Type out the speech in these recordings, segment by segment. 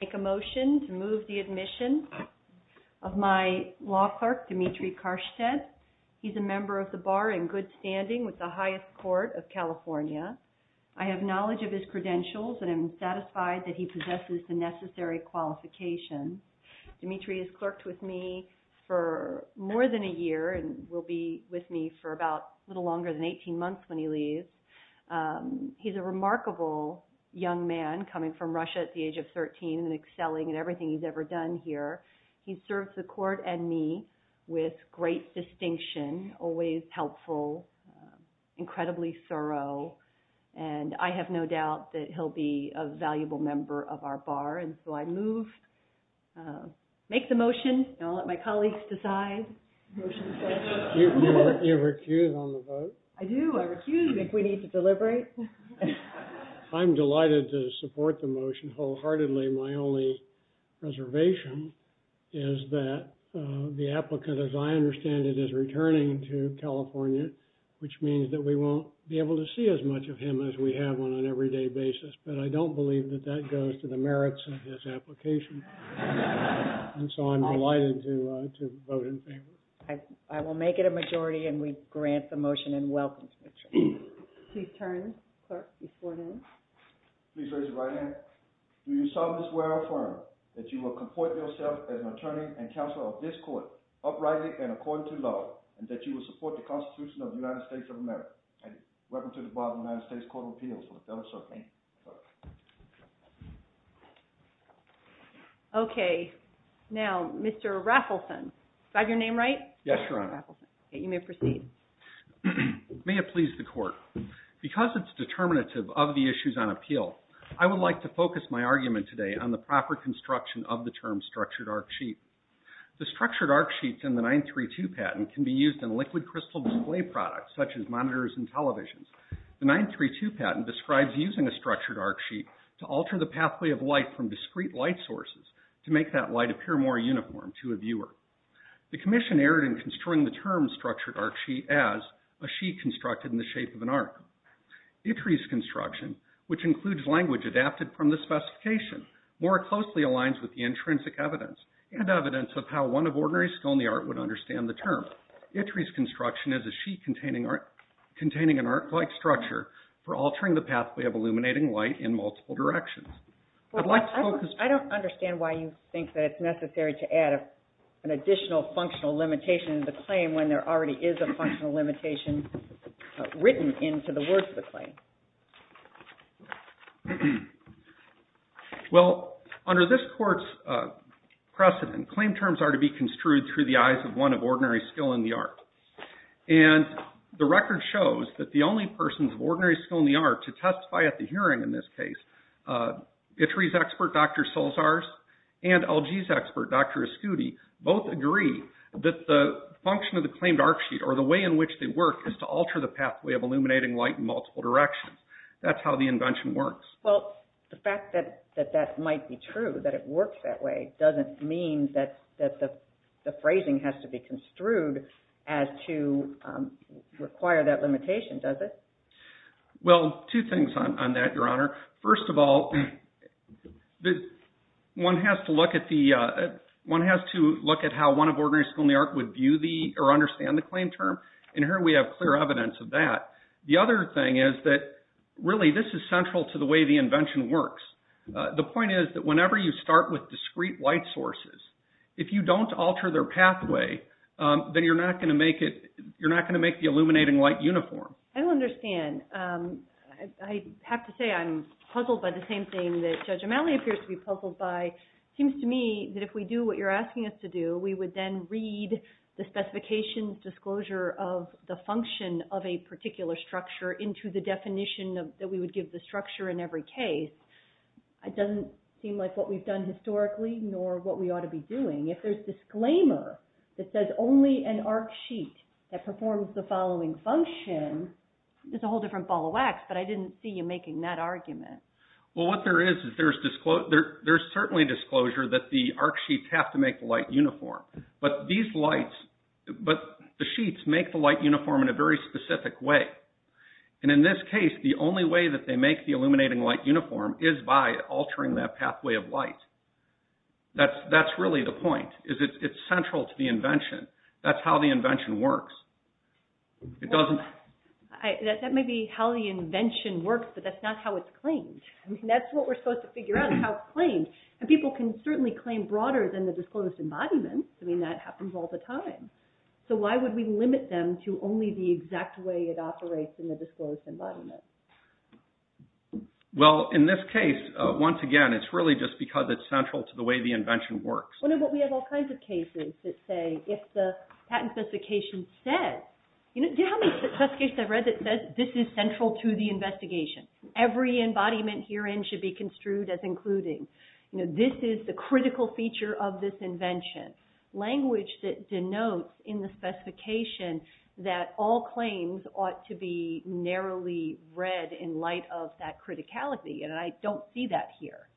make a motion to move the admission of my law clerk, Dimitri Karshtedt. He's a member of the bar in good standing with the highest court of California. I have knowledge of his credentials and am satisfied that he possesses the necessary qualifications. Dimitri has clerked with me for more than a year and will be with me for about a little longer than 18 months when he leaves. He's a remarkable young man coming from Russia at the age of 13 and excelling at everything he's ever done here. He serves the court and me with great distinction, always helpful, incredibly thorough, and I have no doubt that he'll be a valuable member of our bar. And so I move, make the motion, and I'll let my colleagues decide. You recuse on the vote? I do, I recuse if we need to deliberate. I'm delighted to support the motion wholeheartedly. My only reservation is that the applicant, as I understand it, is returning to California, which means that we won't be able to see as much of him as we have on an everyday basis, but I don't believe that that goes to the merits of his application. And so I'm delighted to vote in favor. I will make it a majority and we have a unanimous vote. Okay. Now, Mr. Raffleson, is that your name right? Yes, Your Honor. You may proceed. May it please the court, because it's determinative of the issues on the floor. I'd like to focus my argument today on the proper construction of the term structured arc sheet. The structured arc sheets in the 932 patent can be used in liquid crystal display products such as monitors and televisions. The 932 patent describes using a structured arc sheet to alter the pathway of light from discrete light sources to make that light appear more uniform to a viewer. The commission erred in construing the term structured arc sheet as a sheet constructed in the shape of an arc. It reads construction, which includes language adapted from the specification, more closely aligns with the intrinsic evidence and evidence of how one of ordinary scholarly art would understand the term. It reads construction as a sheet containing an arc-like structure for altering the pathway of illuminating light in multiple directions. I'd like to focus... I don't understand why you think that it's necessary to add an additional functional limitation to the claim when there already is a functional limitation written into the words of the claim. Well under this court's precedent, claim terms are to be construed through the eyes of one of ordinary skill in the art. And the record shows that the only persons of ordinary skill in the art to testify at the hearing in this case, ITRI's expert Dr. Solzars and LG's expert Dr. Ascuti, both agree that the function of the claimed arc sheet or the way in which they work is to alter the pathway of illuminating light in multiple directions. That's how the invention works. Well the fact that that might be true, that it works that way, doesn't mean that the phrasing has to be construed as to require that limitation, does it? Well, two things on that, Your Honor. First of all, one has to look at the... one has to look at how one of ordinary skill in the art would view the... or understand the claim term. And here we have clear evidence of that. The other thing is that really this is central to the way the invention works. The point is that whenever you start with discrete light sources, if you don't alter their pathway, then you're not going to make it... you're not going to make the illuminating light uniform. I don't understand. I have to say I'm puzzled by the same thing that Judge O'Malley appears to be puzzled by. It seems to me that if we do what you're asking us to do, we would then read the specifications disclosure of the function of a particular structure into the definition that we would give the structure in every case. It doesn't seem like what we've done historically, nor what we ought to be doing. If there's disclaimer that says only an arc sheet that performs the following function, it's a whole different ball of wax, but I didn't see you making that argument. Well, what there is, is there's certainly disclosure that the arc sheets have to make the light uniform. But these lights... but the sheets make the light uniform in a very specific way. And in this case, the only way that they make the illuminating light uniform is by altering that pathway of light. That's really the point, is it's central to the invention. That's how the invention works. Well, that may be how the invention works, but that's not how it's claimed. I mean, that's what we're supposed to figure out is how it's claimed. And people can certainly claim broader than the disclosed embodiment. I mean, that happens all the time. So why would we limit them to only the exact way it operates in the disclosed embodiment? Well, in this case, once again, it's really just because it's central to the way the invention works. But we have all kinds of cases that say, if the patent specification says... do you know how many cases I've read that says, this is central to the investigation? Every embodiment herein should be construed as including. This is the critical feature of this invention. Language that denotes in the specification that all claims ought to be narrowly read in light of that criticality. And I don't see that here.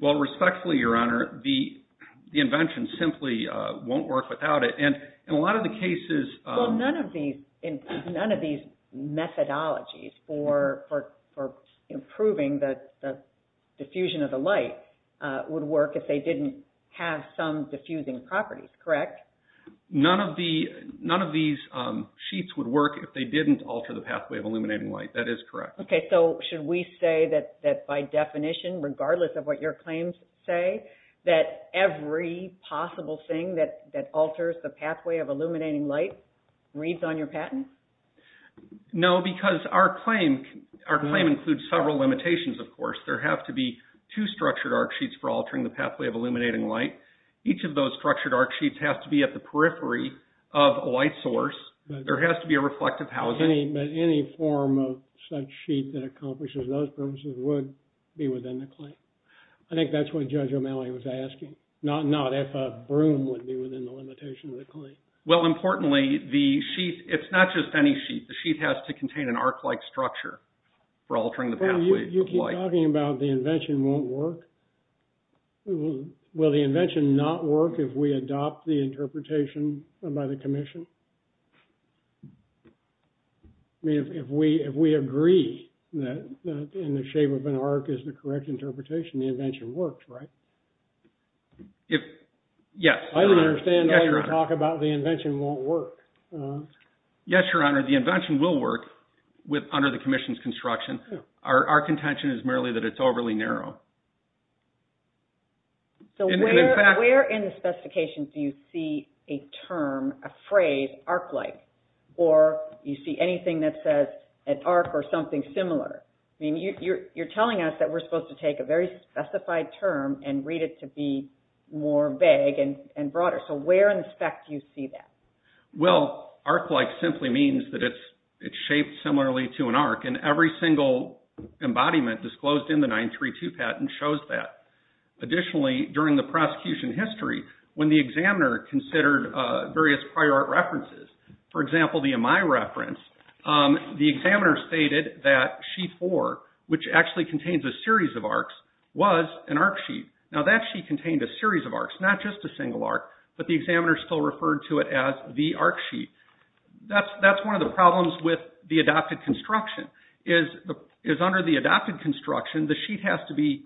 Well, respectfully, Your Honor, the invention simply won't work without it. And in a lot of the cases... Well, none of these methodologies for improving the diffusion of the light would work if they didn't have some diffusing properties, correct? None of these sheets would work if they didn't alter the pathway of illuminating light. That is correct. Okay. So should we say that by definition, regardless of what your claims say, that every possible thing that alters the pathway of illuminating light reads on your patent? No, because our claim includes several limitations, of course. There have to be two structured arc sheets for altering the pathway of illuminating light. Each of those structured arc sheets have to be at the periphery of a light source. There has to be a reflective housing. But any form of such sheet that accomplishes those purposes would be within the claim. I think that's what Judge O'Malley was asking. Not if a broom would be within the limitation of the claim. Well, importantly, it's not just any sheet. The sheet has to contain an arc-like structure for altering the pathway of light. Well, you keep talking about the invention won't work. Will the invention not work if we adopt the interpretation by the commission? I mean, if we agree that in the shape of an arc is the correct interpretation, the invention works, right? Yes, Your Honor. I don't understand why you talk about the invention won't work. Yes, Your Honor. The invention will work under the commission's construction. Our contention is merely that it's overly narrow. So where in the specifications do you see a term, a phrase, arc-like? Or do you see anything that says an arc or something similar? I mean, you're telling us that we're supposed to take a very specified term and read it to be more vague and broader. So where in the spec do you see that? Well, arc-like simply means that it's shaped similarly to an arc. And every single embodiment disclosed in the 932 patent shows that. Additionally, during the prosecution history, when the examiner considered various prior art references, for example, the reference, the examiner stated that sheet four, which actually contains a series of arcs, was an arc sheet. Now that sheet contained a series of arcs, not just a single arc, but the examiner still referred to it as the arc sheet. That's one of the problems with the adopted construction, is under the adopted construction, the sheet has to be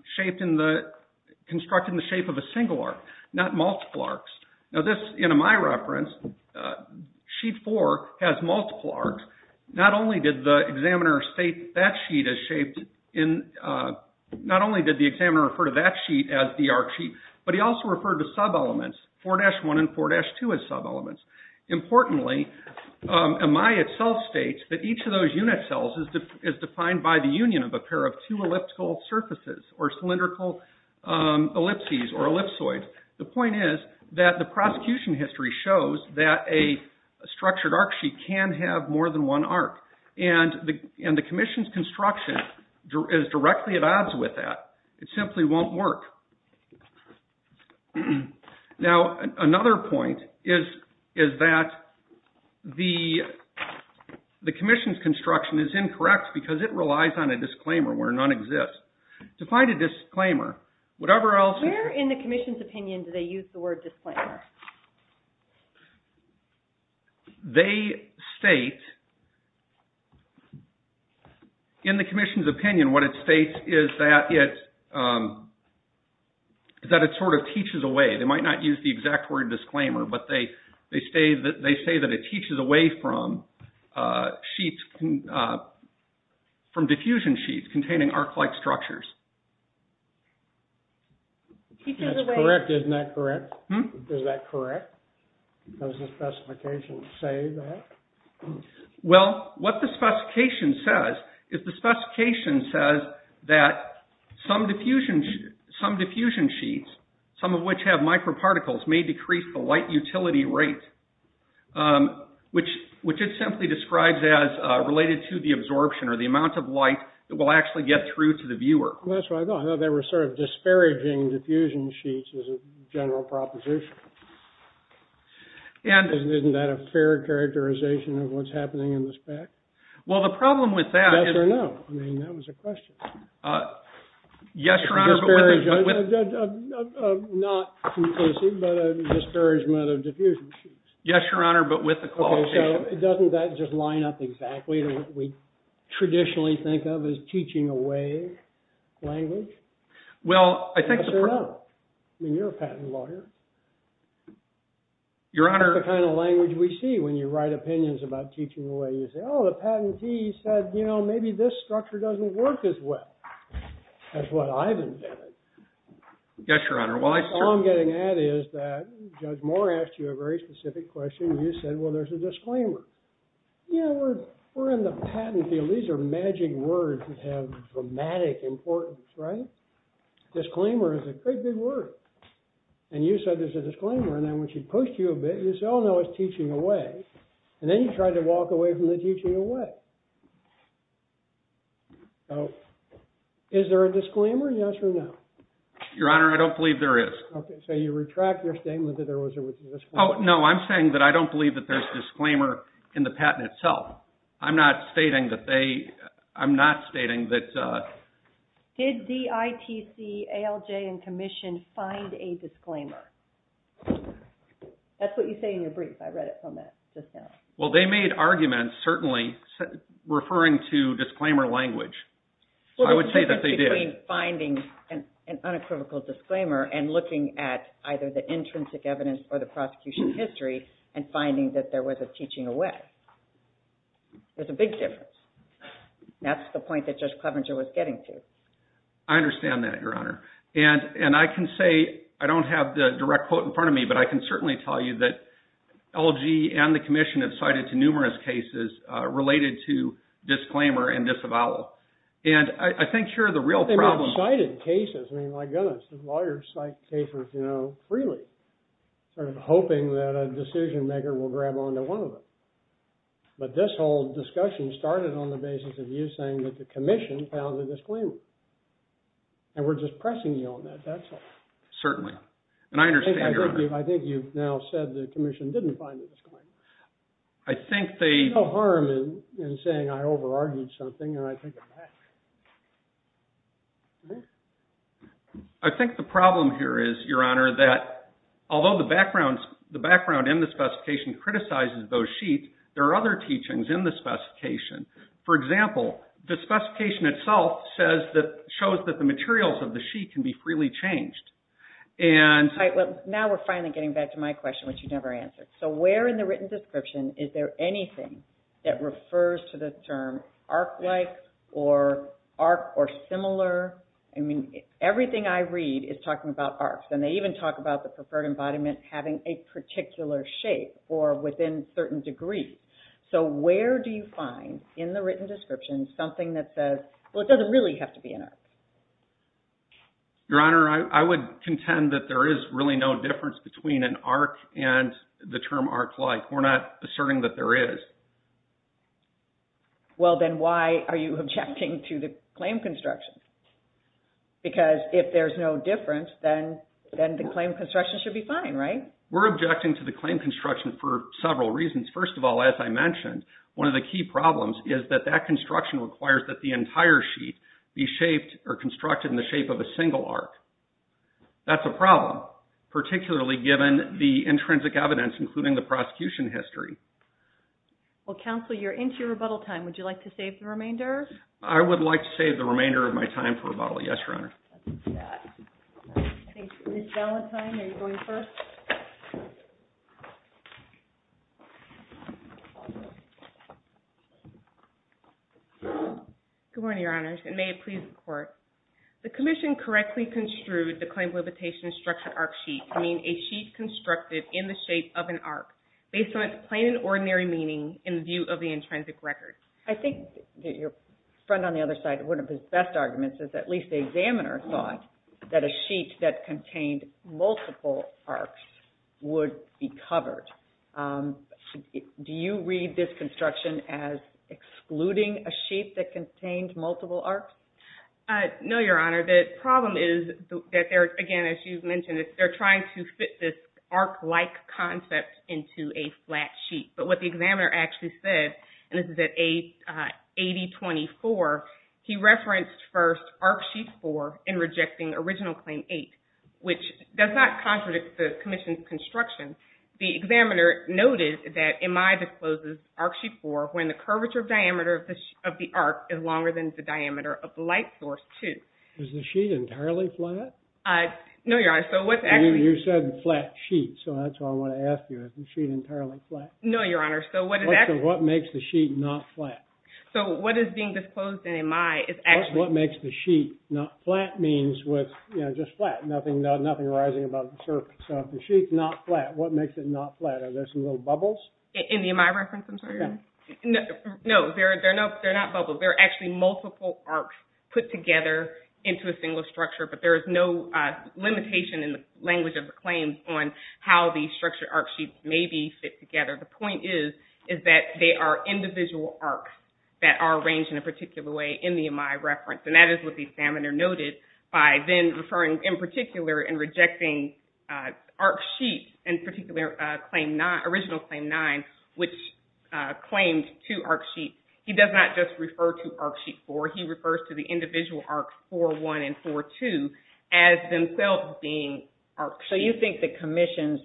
constructed in the shape of a single arc, not multiple arcs. Now this, in my reference, sheet four has multiple arcs. Not only did the examiner state that sheet is shaped in, not only did the examiner refer to that sheet as the arc sheet, but he also referred to sub-elements, 4-1 and 4-2 as sub-elements. Importantly, Amai itself states that each of those unit cells is defined by the union of a pair of two elliptical surfaces, or that a structured arc sheet can have more than one arc, and the commission's construction is directly at odds with that. It simply won't work. Now another point is that the commission's construction is incorrect because it relies on a disclaimer where none exists. To find a disclaimer, whatever else... Where in the commission's opinion do they use the word disclaimer? They state, in the commission's opinion, what it states is that it sort of teaches away. They might not use the exact word disclaimer, but they say that it teaches away from diffusion sheets containing arc-like structures. That's correct, isn't that correct? Is that correct? Does the specification say that? Well, what the specification says is the specification says that some diffusion sheets, some of which have microparticles, may decrease the light utility rate, which it simply describes as related to the absorption or the amount of light that will get through to the viewer. That's what I thought. I thought they were sort of disparaging diffusion sheets as a general proposition. Isn't that a fair characterization of what's happening in the spec? Well, the problem with that is... Yes or no? I mean, that was a question. Yes, Your Honor, but with the... Not conclusively, but a disparagement of diffusion sheets. Yes, Your Honor, but with the disclaimer. Yes, Your Honor, well, I... All I'm getting at is that Judge Moore asked you a very specific question. You said, well, there's a disclaimer. Yeah, we're in the patent field. These are magic words that have dramatic importance, right? Disclaimer is a great big word. And you said there's a disclaimer. And then when she pushed you a bit, you said, oh, no, it's teaching away. And then you tried to walk away from the teaching away. Is there a disclaimer? Yes or no? Your Honor, I don't believe there is. Okay, so you retract your statement that there was a disclaimer. Oh, no, I'm saying that I don't believe that there's disclaimer in the patent itself. I'm not stating that they... I'm not stating that... Did DITC, ALJ, and Commission find a disclaimer? That's what you say in your brief. I read it from that just now. Well, they made arguments, certainly, referring to disclaimer language. Well, there's a difference between finding an unequivocal disclaimer and looking at either the intrinsic evidence or the prosecution history and finding that there was a teaching away. There's a big difference. That's the point that Judge Clevenger was getting to. I understand that, Your Honor. And I can say, I don't have the direct quote in front of me, but I can certainly tell you that LG and the Commission have cited numerous cases related to disclaimer and disavowal. And I think here, the real problem... They may have cited cases. I mean, my goodness, the lawyers cite cases freely, sort of hoping that a decision maker will grab onto one of them. But this whole discussion started on the basis of you saying that the Commission found a disclaimer. And we're just pressing you on that. That's all. Certainly. And I understand, Your Honor. I think you've now said the Commission didn't find a disclaimer. I think they... There's no harm in saying I over-argued something and I take it back. I think the problem here is, Your Honor, that although the background in the specification criticizes those sheets, there are other teachings in the specification. For example, the specification itself shows that the materials of the sheet can be freely changed. Right. Well, now we're finally getting back to my question, which you never answered. So where in the written description is there anything that refers to the term arc-like or arc or similar? I mean, everything I read is talking about arcs, and they even talk about the preferred embodiment having a particular shape or within certain degrees. So where do you find in the written description something that says, well, it doesn't really have to be an arc? Your Honor, I would contend that there is really no difference between an arc and the term arc-like. We're not asserting that there is. Well, then why are you objecting to the claim construction? Because if there's no difference, then the claim construction should be fine, right? We're objecting to the claim construction for several reasons. First of all, as I mentioned, one of the key problems is that that construction requires that the entire sheet be shaped or constructed in the shape of a single arc. That's a problem, particularly given the intrinsic evidence, including the prosecution history. Well, Counsel, you're into your rebuttal time. Would you like to save the remainder? I would like to save the remainder of my time for rebuttal. Yes, Your Honor. Thank you. Ms. Valantine, are you going first? Good morning, Your Honors, and may it please the Court. The Commission correctly construed the claim limitation instruction arc sheet to mean a sheet constructed in the shape of an arc based on its plain and ordinary meaning in view of the intrinsic record. I think your friend on the other side, one of his best arguments is at least the examiner thought that a sheet that contained multiple arcs would be covered. Do you read this construction as excluding a sheet that contained multiple arcs? No, Your Honor. The problem is that, again, as you mentioned, they're trying to fit this arc-like concept into a flat sheet. But what the examiner actually said, and this is at 8024, he referenced first arc sheet 4 in rejecting original claim 8, which does not contradict the Commission's construction. The examiner noted that MI discloses arc sheet 4 when the curvature of diameter of the arc is longer than the diameter of the light source, too. Is the sheet entirely flat? No, Your Honor. You said flat sheet, so that's what I want to ask you. Is the sheet entirely flat? No, Your Honor. So what makes the sheet not flat? So what is being disclosed in MI is actually... What makes the sheet not flat means just flat, nothing arising above the surface. So if the sheet's not flat, what makes it not flat? Are there some little bubbles? In the MI reference, I'm sorry? No, they're not bubbles. They're actually multiple arcs put together into a single structure, but there is no limitation in the language of the claims on how these structured arc sheets maybe fit together. The point is that they are individual arcs that are arranged in a particular way in the MI reference. And that is what the examiner noted by then referring, in particular, and rejecting arc sheet, in particular, original claim 9, which claimed two arc sheets. He does not just to arc sheet 4. He refers to the individual arcs 4.1 and 4.2 as themselves being arc sheets. So you think the commission's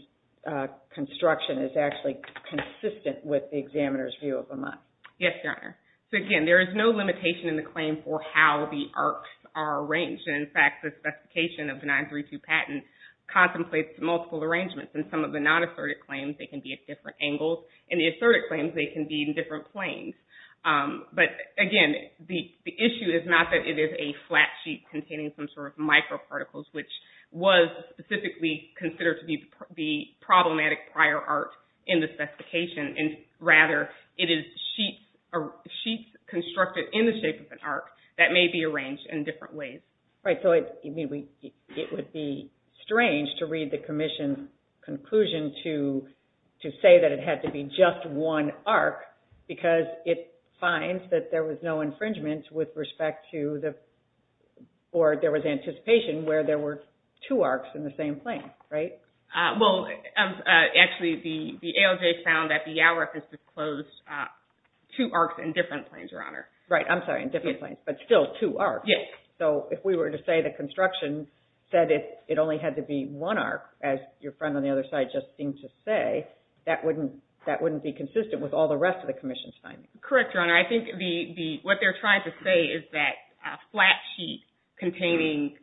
construction is actually consistent with the examiner's view of the month? Yes, Your Honor. So again, there is no limitation in the claim for how the arcs are arranged. In fact, the specification of the 932 patent contemplates multiple arrangements. In some of the non-assertive claims, they can be at different angles. In the assertive claims, they can be in different planes. But again, the issue is not that it is a flat sheet containing some sort of microparticles, which was specifically considered to be the problematic prior arc in the specification. And rather, it is sheets constructed in the shape of an arc that may be arranged in different ways. Right. So it would be strange to read the commission's conclusion to say that it had to be just one arc because it finds that there was no infringement with respect to the or there was anticipation where there were two arcs in the same plane, right? Well, actually, the ALJ found that the YALREF has disclosed two arcs in different planes, Your Honor. Right. I'm sorry, in different planes, but still two arcs. Yes. So if we were to say the construction said it only had to be one arc, as your friend on the other side just seemed to say, that wouldn't be consistent with all the rest of the commission's findings. Correct, Your Honor. I think what they're trying to say is that a flat sheet containing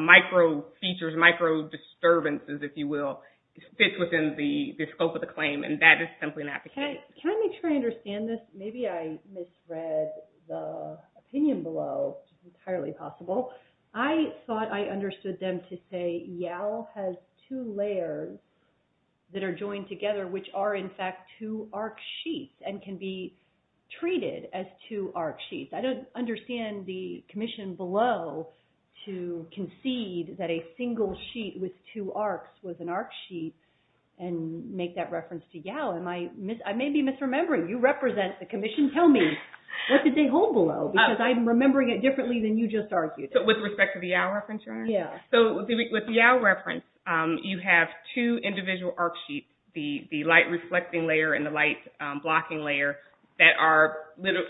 micro features, micro disturbances, if you will, fits within the scope of the claim, and that is simply not the case. Can I make sure I understand this? Maybe I misread the opinion below entirely possible. I thought I understood them to say YAL has two layers that are joined together, which are, in fact, two arc sheets and can be treated as two arc sheets. I don't understand the commission below to concede that a single sheet with two arcs was an arc sheet and make that reference to YAL. I may be misremembering. You represent the commission. Tell me, what did they hold below? Because I'm with respect to the YAL reference, Your Honor. Yeah. So with the YAL reference, you have two individual arc sheets, the light reflecting layer and the light blocking layer that are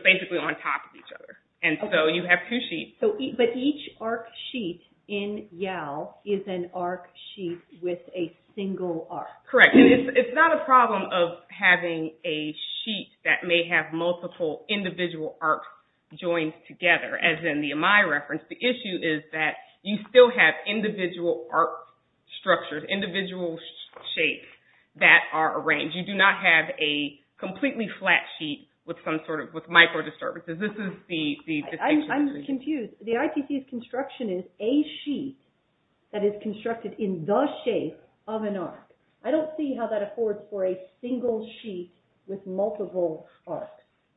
basically on top of each other. And so you have two sheets. But each arc sheet in YAL is an arc sheet with a single arc. Correct. And it's not a problem of having a sheet that may have multiple individual arcs joined together, as in the Amai reference. The issue is that you still have individual arc structures, individual shapes that are arranged. You do not have a completely flat sheet with some sort of, with micro disturbances. This is the distinction. I'm confused. The IPC's construction is a sheet that is constructed in the shape of an arc. I don't see how that affords for a single sheet with multiple arcs.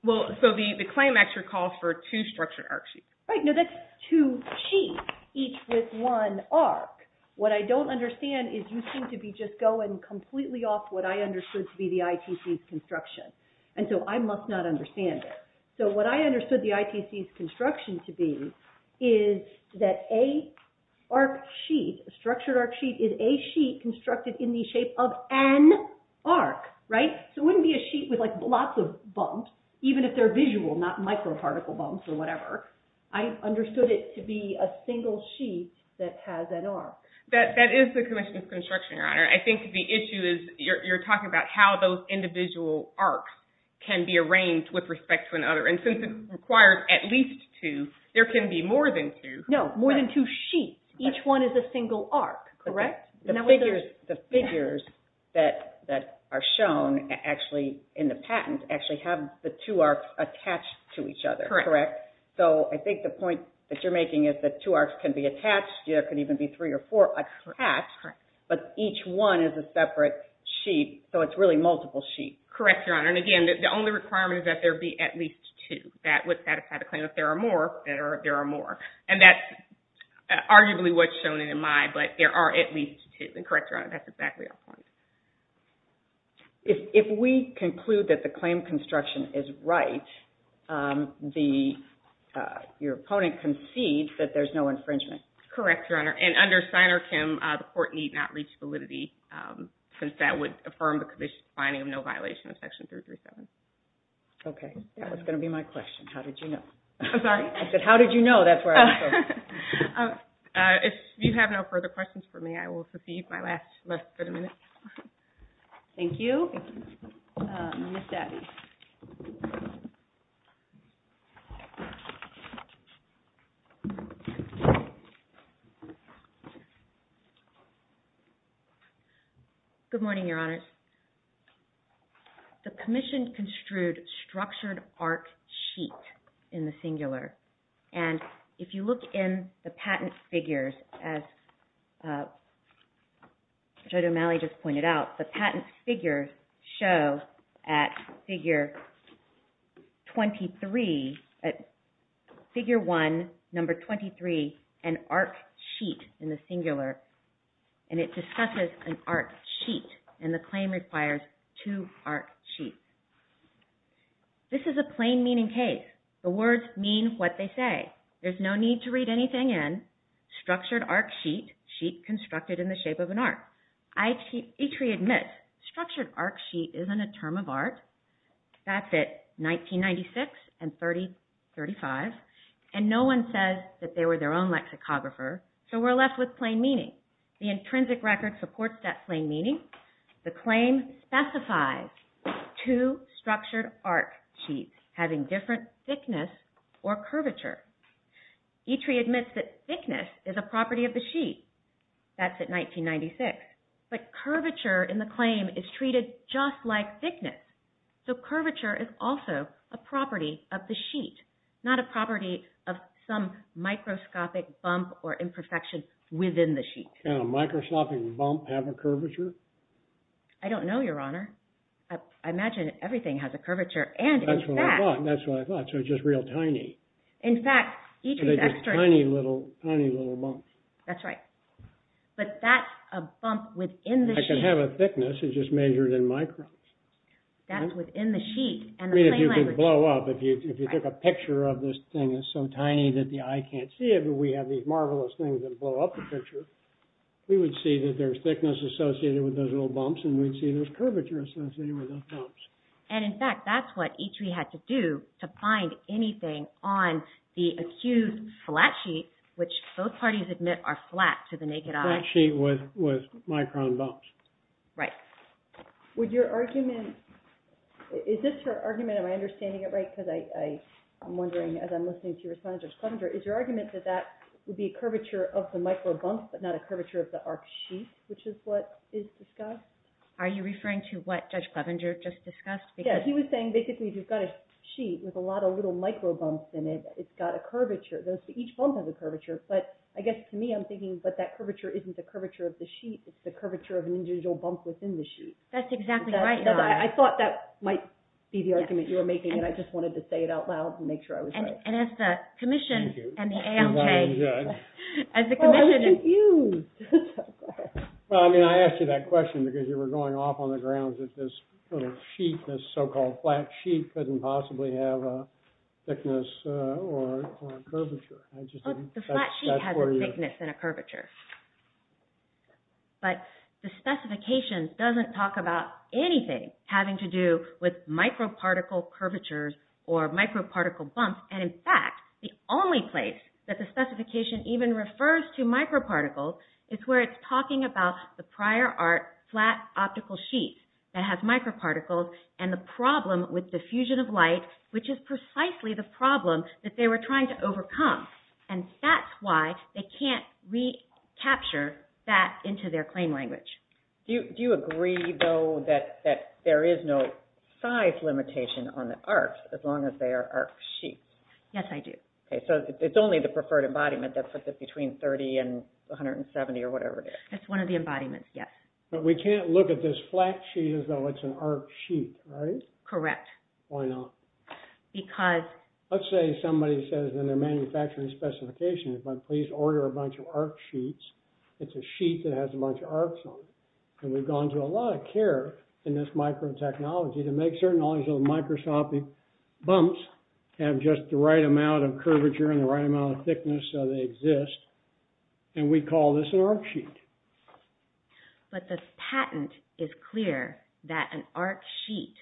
Well, so the claim actually calls for two structured arc sheets. Right. No, that's two sheets, each with one arc. What I don't understand is you seem to be just going completely off what I understood to be the ITC's construction. And so I must not understand it. So what I understood the ITC's construction to be is that a structure arc sheet is a sheet constructed in the shape of an arc, right? So it wouldn't be a sheet with lots of bumps, even if they're visual, not micro particle bumps or whatever. I understood it to be a single sheet that has an arc. That is the commission's construction, Your Honor. I think the issue is you're talking about how those individual arcs can be arranged with respect to another. And since it requires at least two, there can be more than two. No, more than two sheets. Each one is a single arc, correct? The figures that are shown actually in the patent actually have the two arcs attached to each other, correct? So I think the point that you're making is that two arcs can be attached. There can even be three or four attached, but each one is a separate sheet. So it's really multiple sheets. Correct, Your Honor. And again, the only requirement is that there be at least two. That would satisfy the claim. If there are more, there are more. And that's arguably what's shown in the But there are at least two. Correct, Your Honor. That's exactly our point. If we conclude that the claim construction is right, your opponent concedes that there's no infringement. Correct, Your Honor. And under Steiner-Kim, the court need not reach validity since that would affirm the commission's finding of no violation of Section 337. Okay. That was going to be my question. How did you know? I'm sorry? I said, no further questions for me. I will secede my last minute. Thank you. Good morning, Your Honors. The commission construed structured arc sheet in the singular, and if you look in the patent figures, as Judge O'Malley just pointed out, the patent figures show at figure 23, at figure 1, number 23, an arc sheet in the singular, and it discusses an arc sheet, and the claim requires two arc sheets. This is a plain meaning case. The words mean what they say. There's no need to read anything in structured arc sheet, sheet constructed in the shape of an arc. I, Eitri, admit structured arc sheet isn't a term of art. That's at 1996 and 3035, and no one says that they were their own lexicographer, so we're left with plain meaning. The intrinsic record supports that plain meaning. The claim specifies two structured arc sheets having different thickness or curvature. Eitri admits that thickness is a property of the sheet. That's at 1996, but curvature in the claim is treated just like thickness, so curvature is also a property of the sheet, not a property of some microscopic bump or imperfection within the sheet. Can a microscopic bump have a curvature? I don't know, your honor. I imagine everything has a curvature, and that's what I thought, that's what I thought, so just real tiny. In fact, tiny little, tiny little bumps. That's right, but that's a bump within the sheet. I can have a thickness, it's just measured in microns. That's within the sheet. I mean, if you could blow up, if you if you took a picture of this thing, it's so tiny that the eye can't see it, but we have these marvelous things that blow up in the picture. We would see that there's thickness associated with those little bumps, and we'd see there's curvature associated with those bumps. And in fact, that's what Eitri had to do to find anything on the accused flat sheet, which both parties admit are flat to the naked eye. Flat sheet with micron bumps. Right. Would your argument, is this your argument, am I understanding it right? Because I'm wondering as I'm listening to your response, is your argument that that would be a curvature of the micro bumps, but not a curvature of the arc sheet, which is what is discussed? Are you referring to what Judge Clevenger just discussed? Yeah, he was saying basically you've got a sheet with a lot of little micro bumps in it. It's got a curvature, each bump has a curvature, but I guess to me I'm thinking, but that curvature isn't the curvature of the sheet, it's the curvature of an individual bump within the sheet. That's exactly right. I thought that might be the argument you were making. Well, I mean, I asked you that question because you were going off on the ground that this little sheet, this so-called flat sheet, couldn't possibly have a thickness or a curvature. The flat sheet has a thickness and a curvature, but the specification doesn't talk about anything having to do with microparticle curvatures or microparticle bumps, and in fact, the only place that the specification even refers to microparticles is where it's talking about the prior art flat optical sheet that has microparticles and the problem with diffusion of light, which is precisely the problem that they were trying to overcome, and that's why they can't recapture that into their claim language. Do you agree, though, that there is no size limitation on the arcs as long as they are arc sheets? Yes, I do. Okay, so it's only the preferred embodiment that puts it between 30 and 170 or whatever it is. It's one of the embodiments, yes. But we can't look at this flat sheet as though it's an arc sheet, right? Correct. Why not? Because... Let's say somebody says in their manufacturing specification, if I please order a bunch of arc sheets, it's a sheet that has a bunch of arcs on it, and we've gone to a lot of care in this microtechnology to make certain knowledge of microscopic bumps have just the right amount of curvature and the right amount of thickness so they exist, and we call this an arc sheet. But the patent is clear that an arc sheet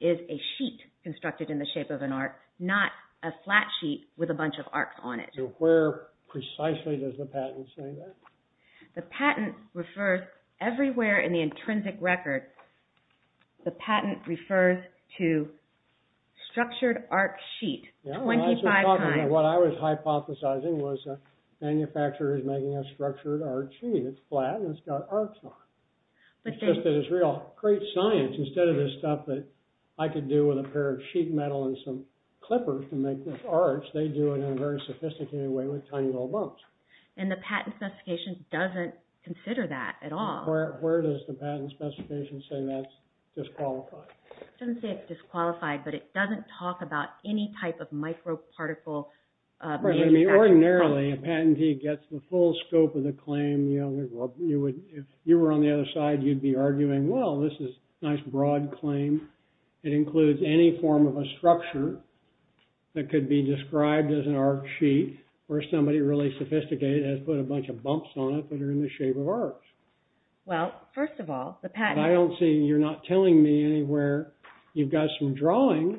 is a sheet constructed in the shape of an arc, not a flat sheet with a bunch of arcs on it. So where precisely does the patent say that? The patent refers everywhere in the intrinsic record, the patent refers to structured arc sheet 25 times. What I was hypothesizing was a manufacturer is making a structured arc sheet. It's flat and it's got arcs on it. It's just that it's real great science. Instead of this stuff that I could do with a pair of sheet metal and some bumps. And the patent specification doesn't consider that at all. Where does the patent specification say that's disqualified? It doesn't say it's disqualified, but it doesn't talk about any type of microparticle... I mean, ordinarily, a patentee gets the full scope of the claim. If you were on the other side, you'd be arguing, well, this is a nice broad claim. It includes any form of a structure that could be described as an arc sheet where somebody really sophisticated has put a bunch of bumps on it that are in the shape of arcs. Well, first of all, the patent... I don't see, you're not telling me anywhere, you've got some drawings,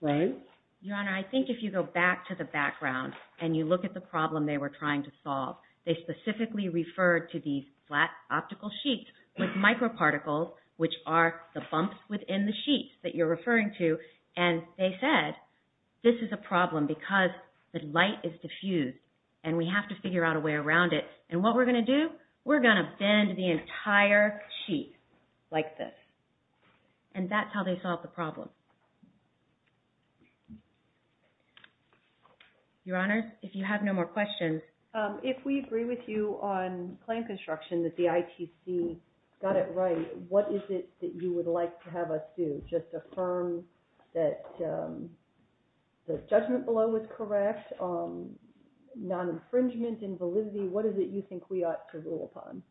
right? Your Honor, I think if you go back to the background and you look at the problem they were trying to solve, they specifically referred to these flat optical sheets with microparticles, which are the bumps within the sheet that you're referring to. And they said, this is a problem because the light is diffused and we have to figure out a way around it. And what we're going to do, we're going to bend the entire sheet like this. And that's how they solved the problem. Your Honor, if you have no more questions... If we agree with you on claim construction, that the ITC got it right, what is it that you would like to have us do? Just affirm that the judgment below was correct, non-infringement, invalidity, what is it you think we ought to rule upon?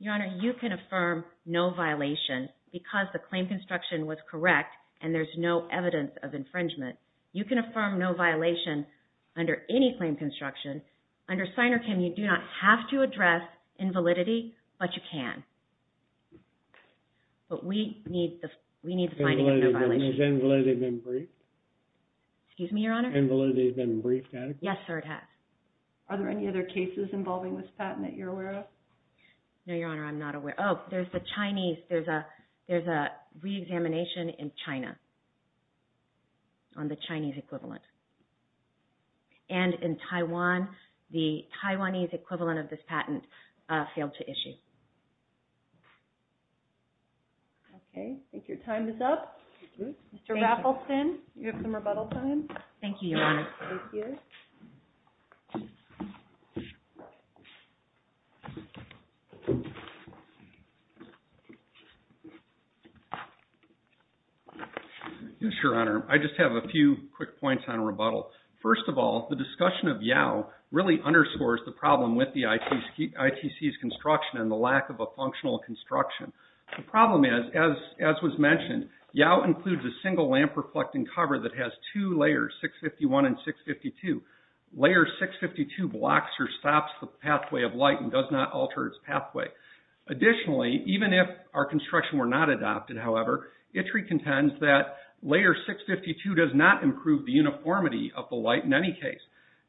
Your Honor, you can affirm no violation because the claim construction was correct and there's no evidence of infringement. You can affirm no violation of claim construction. Under SINR-CHEM, you do not have to address invalidity, but you can. But we need the finding of no violation. Has invalidity been briefed? Excuse me, Your Honor? Invalidity has been briefed, has it? Yes, sir, it has. Are there any other cases involving this patent that you're aware of? No, Your Honor, I'm not aware. Oh, there's the Chinese. There's a re-examination in China on the Chinese equivalent. And in Taiwan, the Taiwanese equivalent of this patent failed to issue. Okay, I think your time is up. Mr. Raffelson, you have some rebuttal time. Thank you, Your Honor. Thank you. Thank you, Your Honor. I just have a few quick points on rebuttal. First of all, the discussion of YOW really underscores the problem with the ITC's construction and the lack of a functional construction. The problem is, as was mentioned, YOW includes a single lamp reflecting cover that has two layers, 651 and 652. Layer 652 blocks or stops the pathway of light and does not alter its pathway. Additionally, even if our construction were not adopted, however, ITC contends that layer 652 does not improve the uniformity of the light in any case.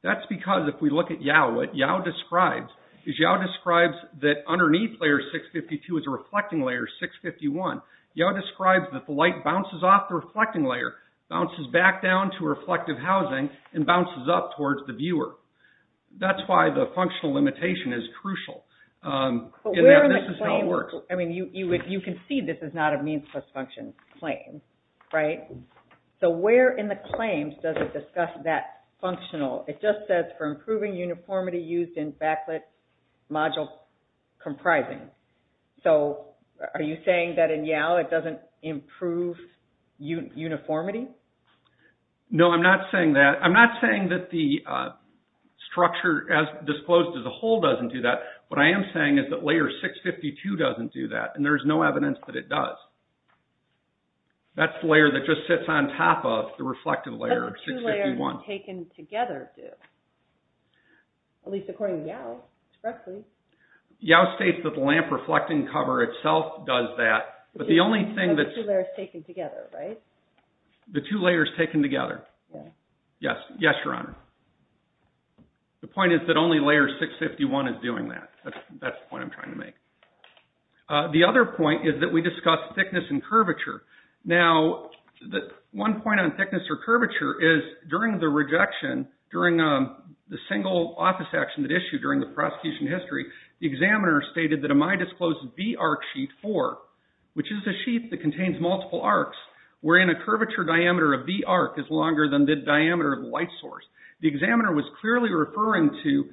That's because if we look at YOW, what YOW describes is YOW describes that underneath layer 652 is a reflecting layer, 651. YOW describes that the light bounces off the reflecting layer, bounces back down to reflective housing, and bounces up towards the viewer. That's why the functional limitation is crucial. I mean, you can see this is not a means plus function claim, right? So where in the claims does it discuss that functional? It just says for improving uniformity used in backlit modules comprising. So are you saying that in YOW it doesn't improve uniformity? No, I'm not saying that. I'm not saying that the structure as disclosed as a whole doesn't do that. What I am saying is that layer 652 doesn't do that, and there's no evidence that it does. That's the layer that just sits on top of the reflective layer, 651. The two layers taken together, right? The two layers taken together. Yes, Your Honor. The point is that only layer 651 is doing that. That's the point I'm trying to make. The other point is that we discussed thickness and curvature. Now, one point on thickness or curvature is during the rejection, during the single office action that issued during the prosecution history, the examiner stated that a my disclosed V-arc sheet 4, which is a sheet that contains multiple arcs, wherein a curvature diameter of V-arc is longer than the diameter of light source. The examiner was clearly referring to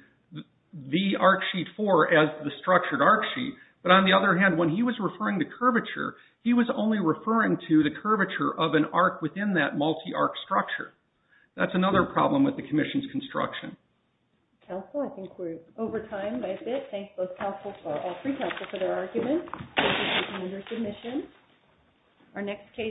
V-arc sheet 4 as the structured arc sheet, but on the other hand, when he was referring to curvature, he was only referring to the curvature of an arc within that multi-arc structure. That's another problem with the commission's construction.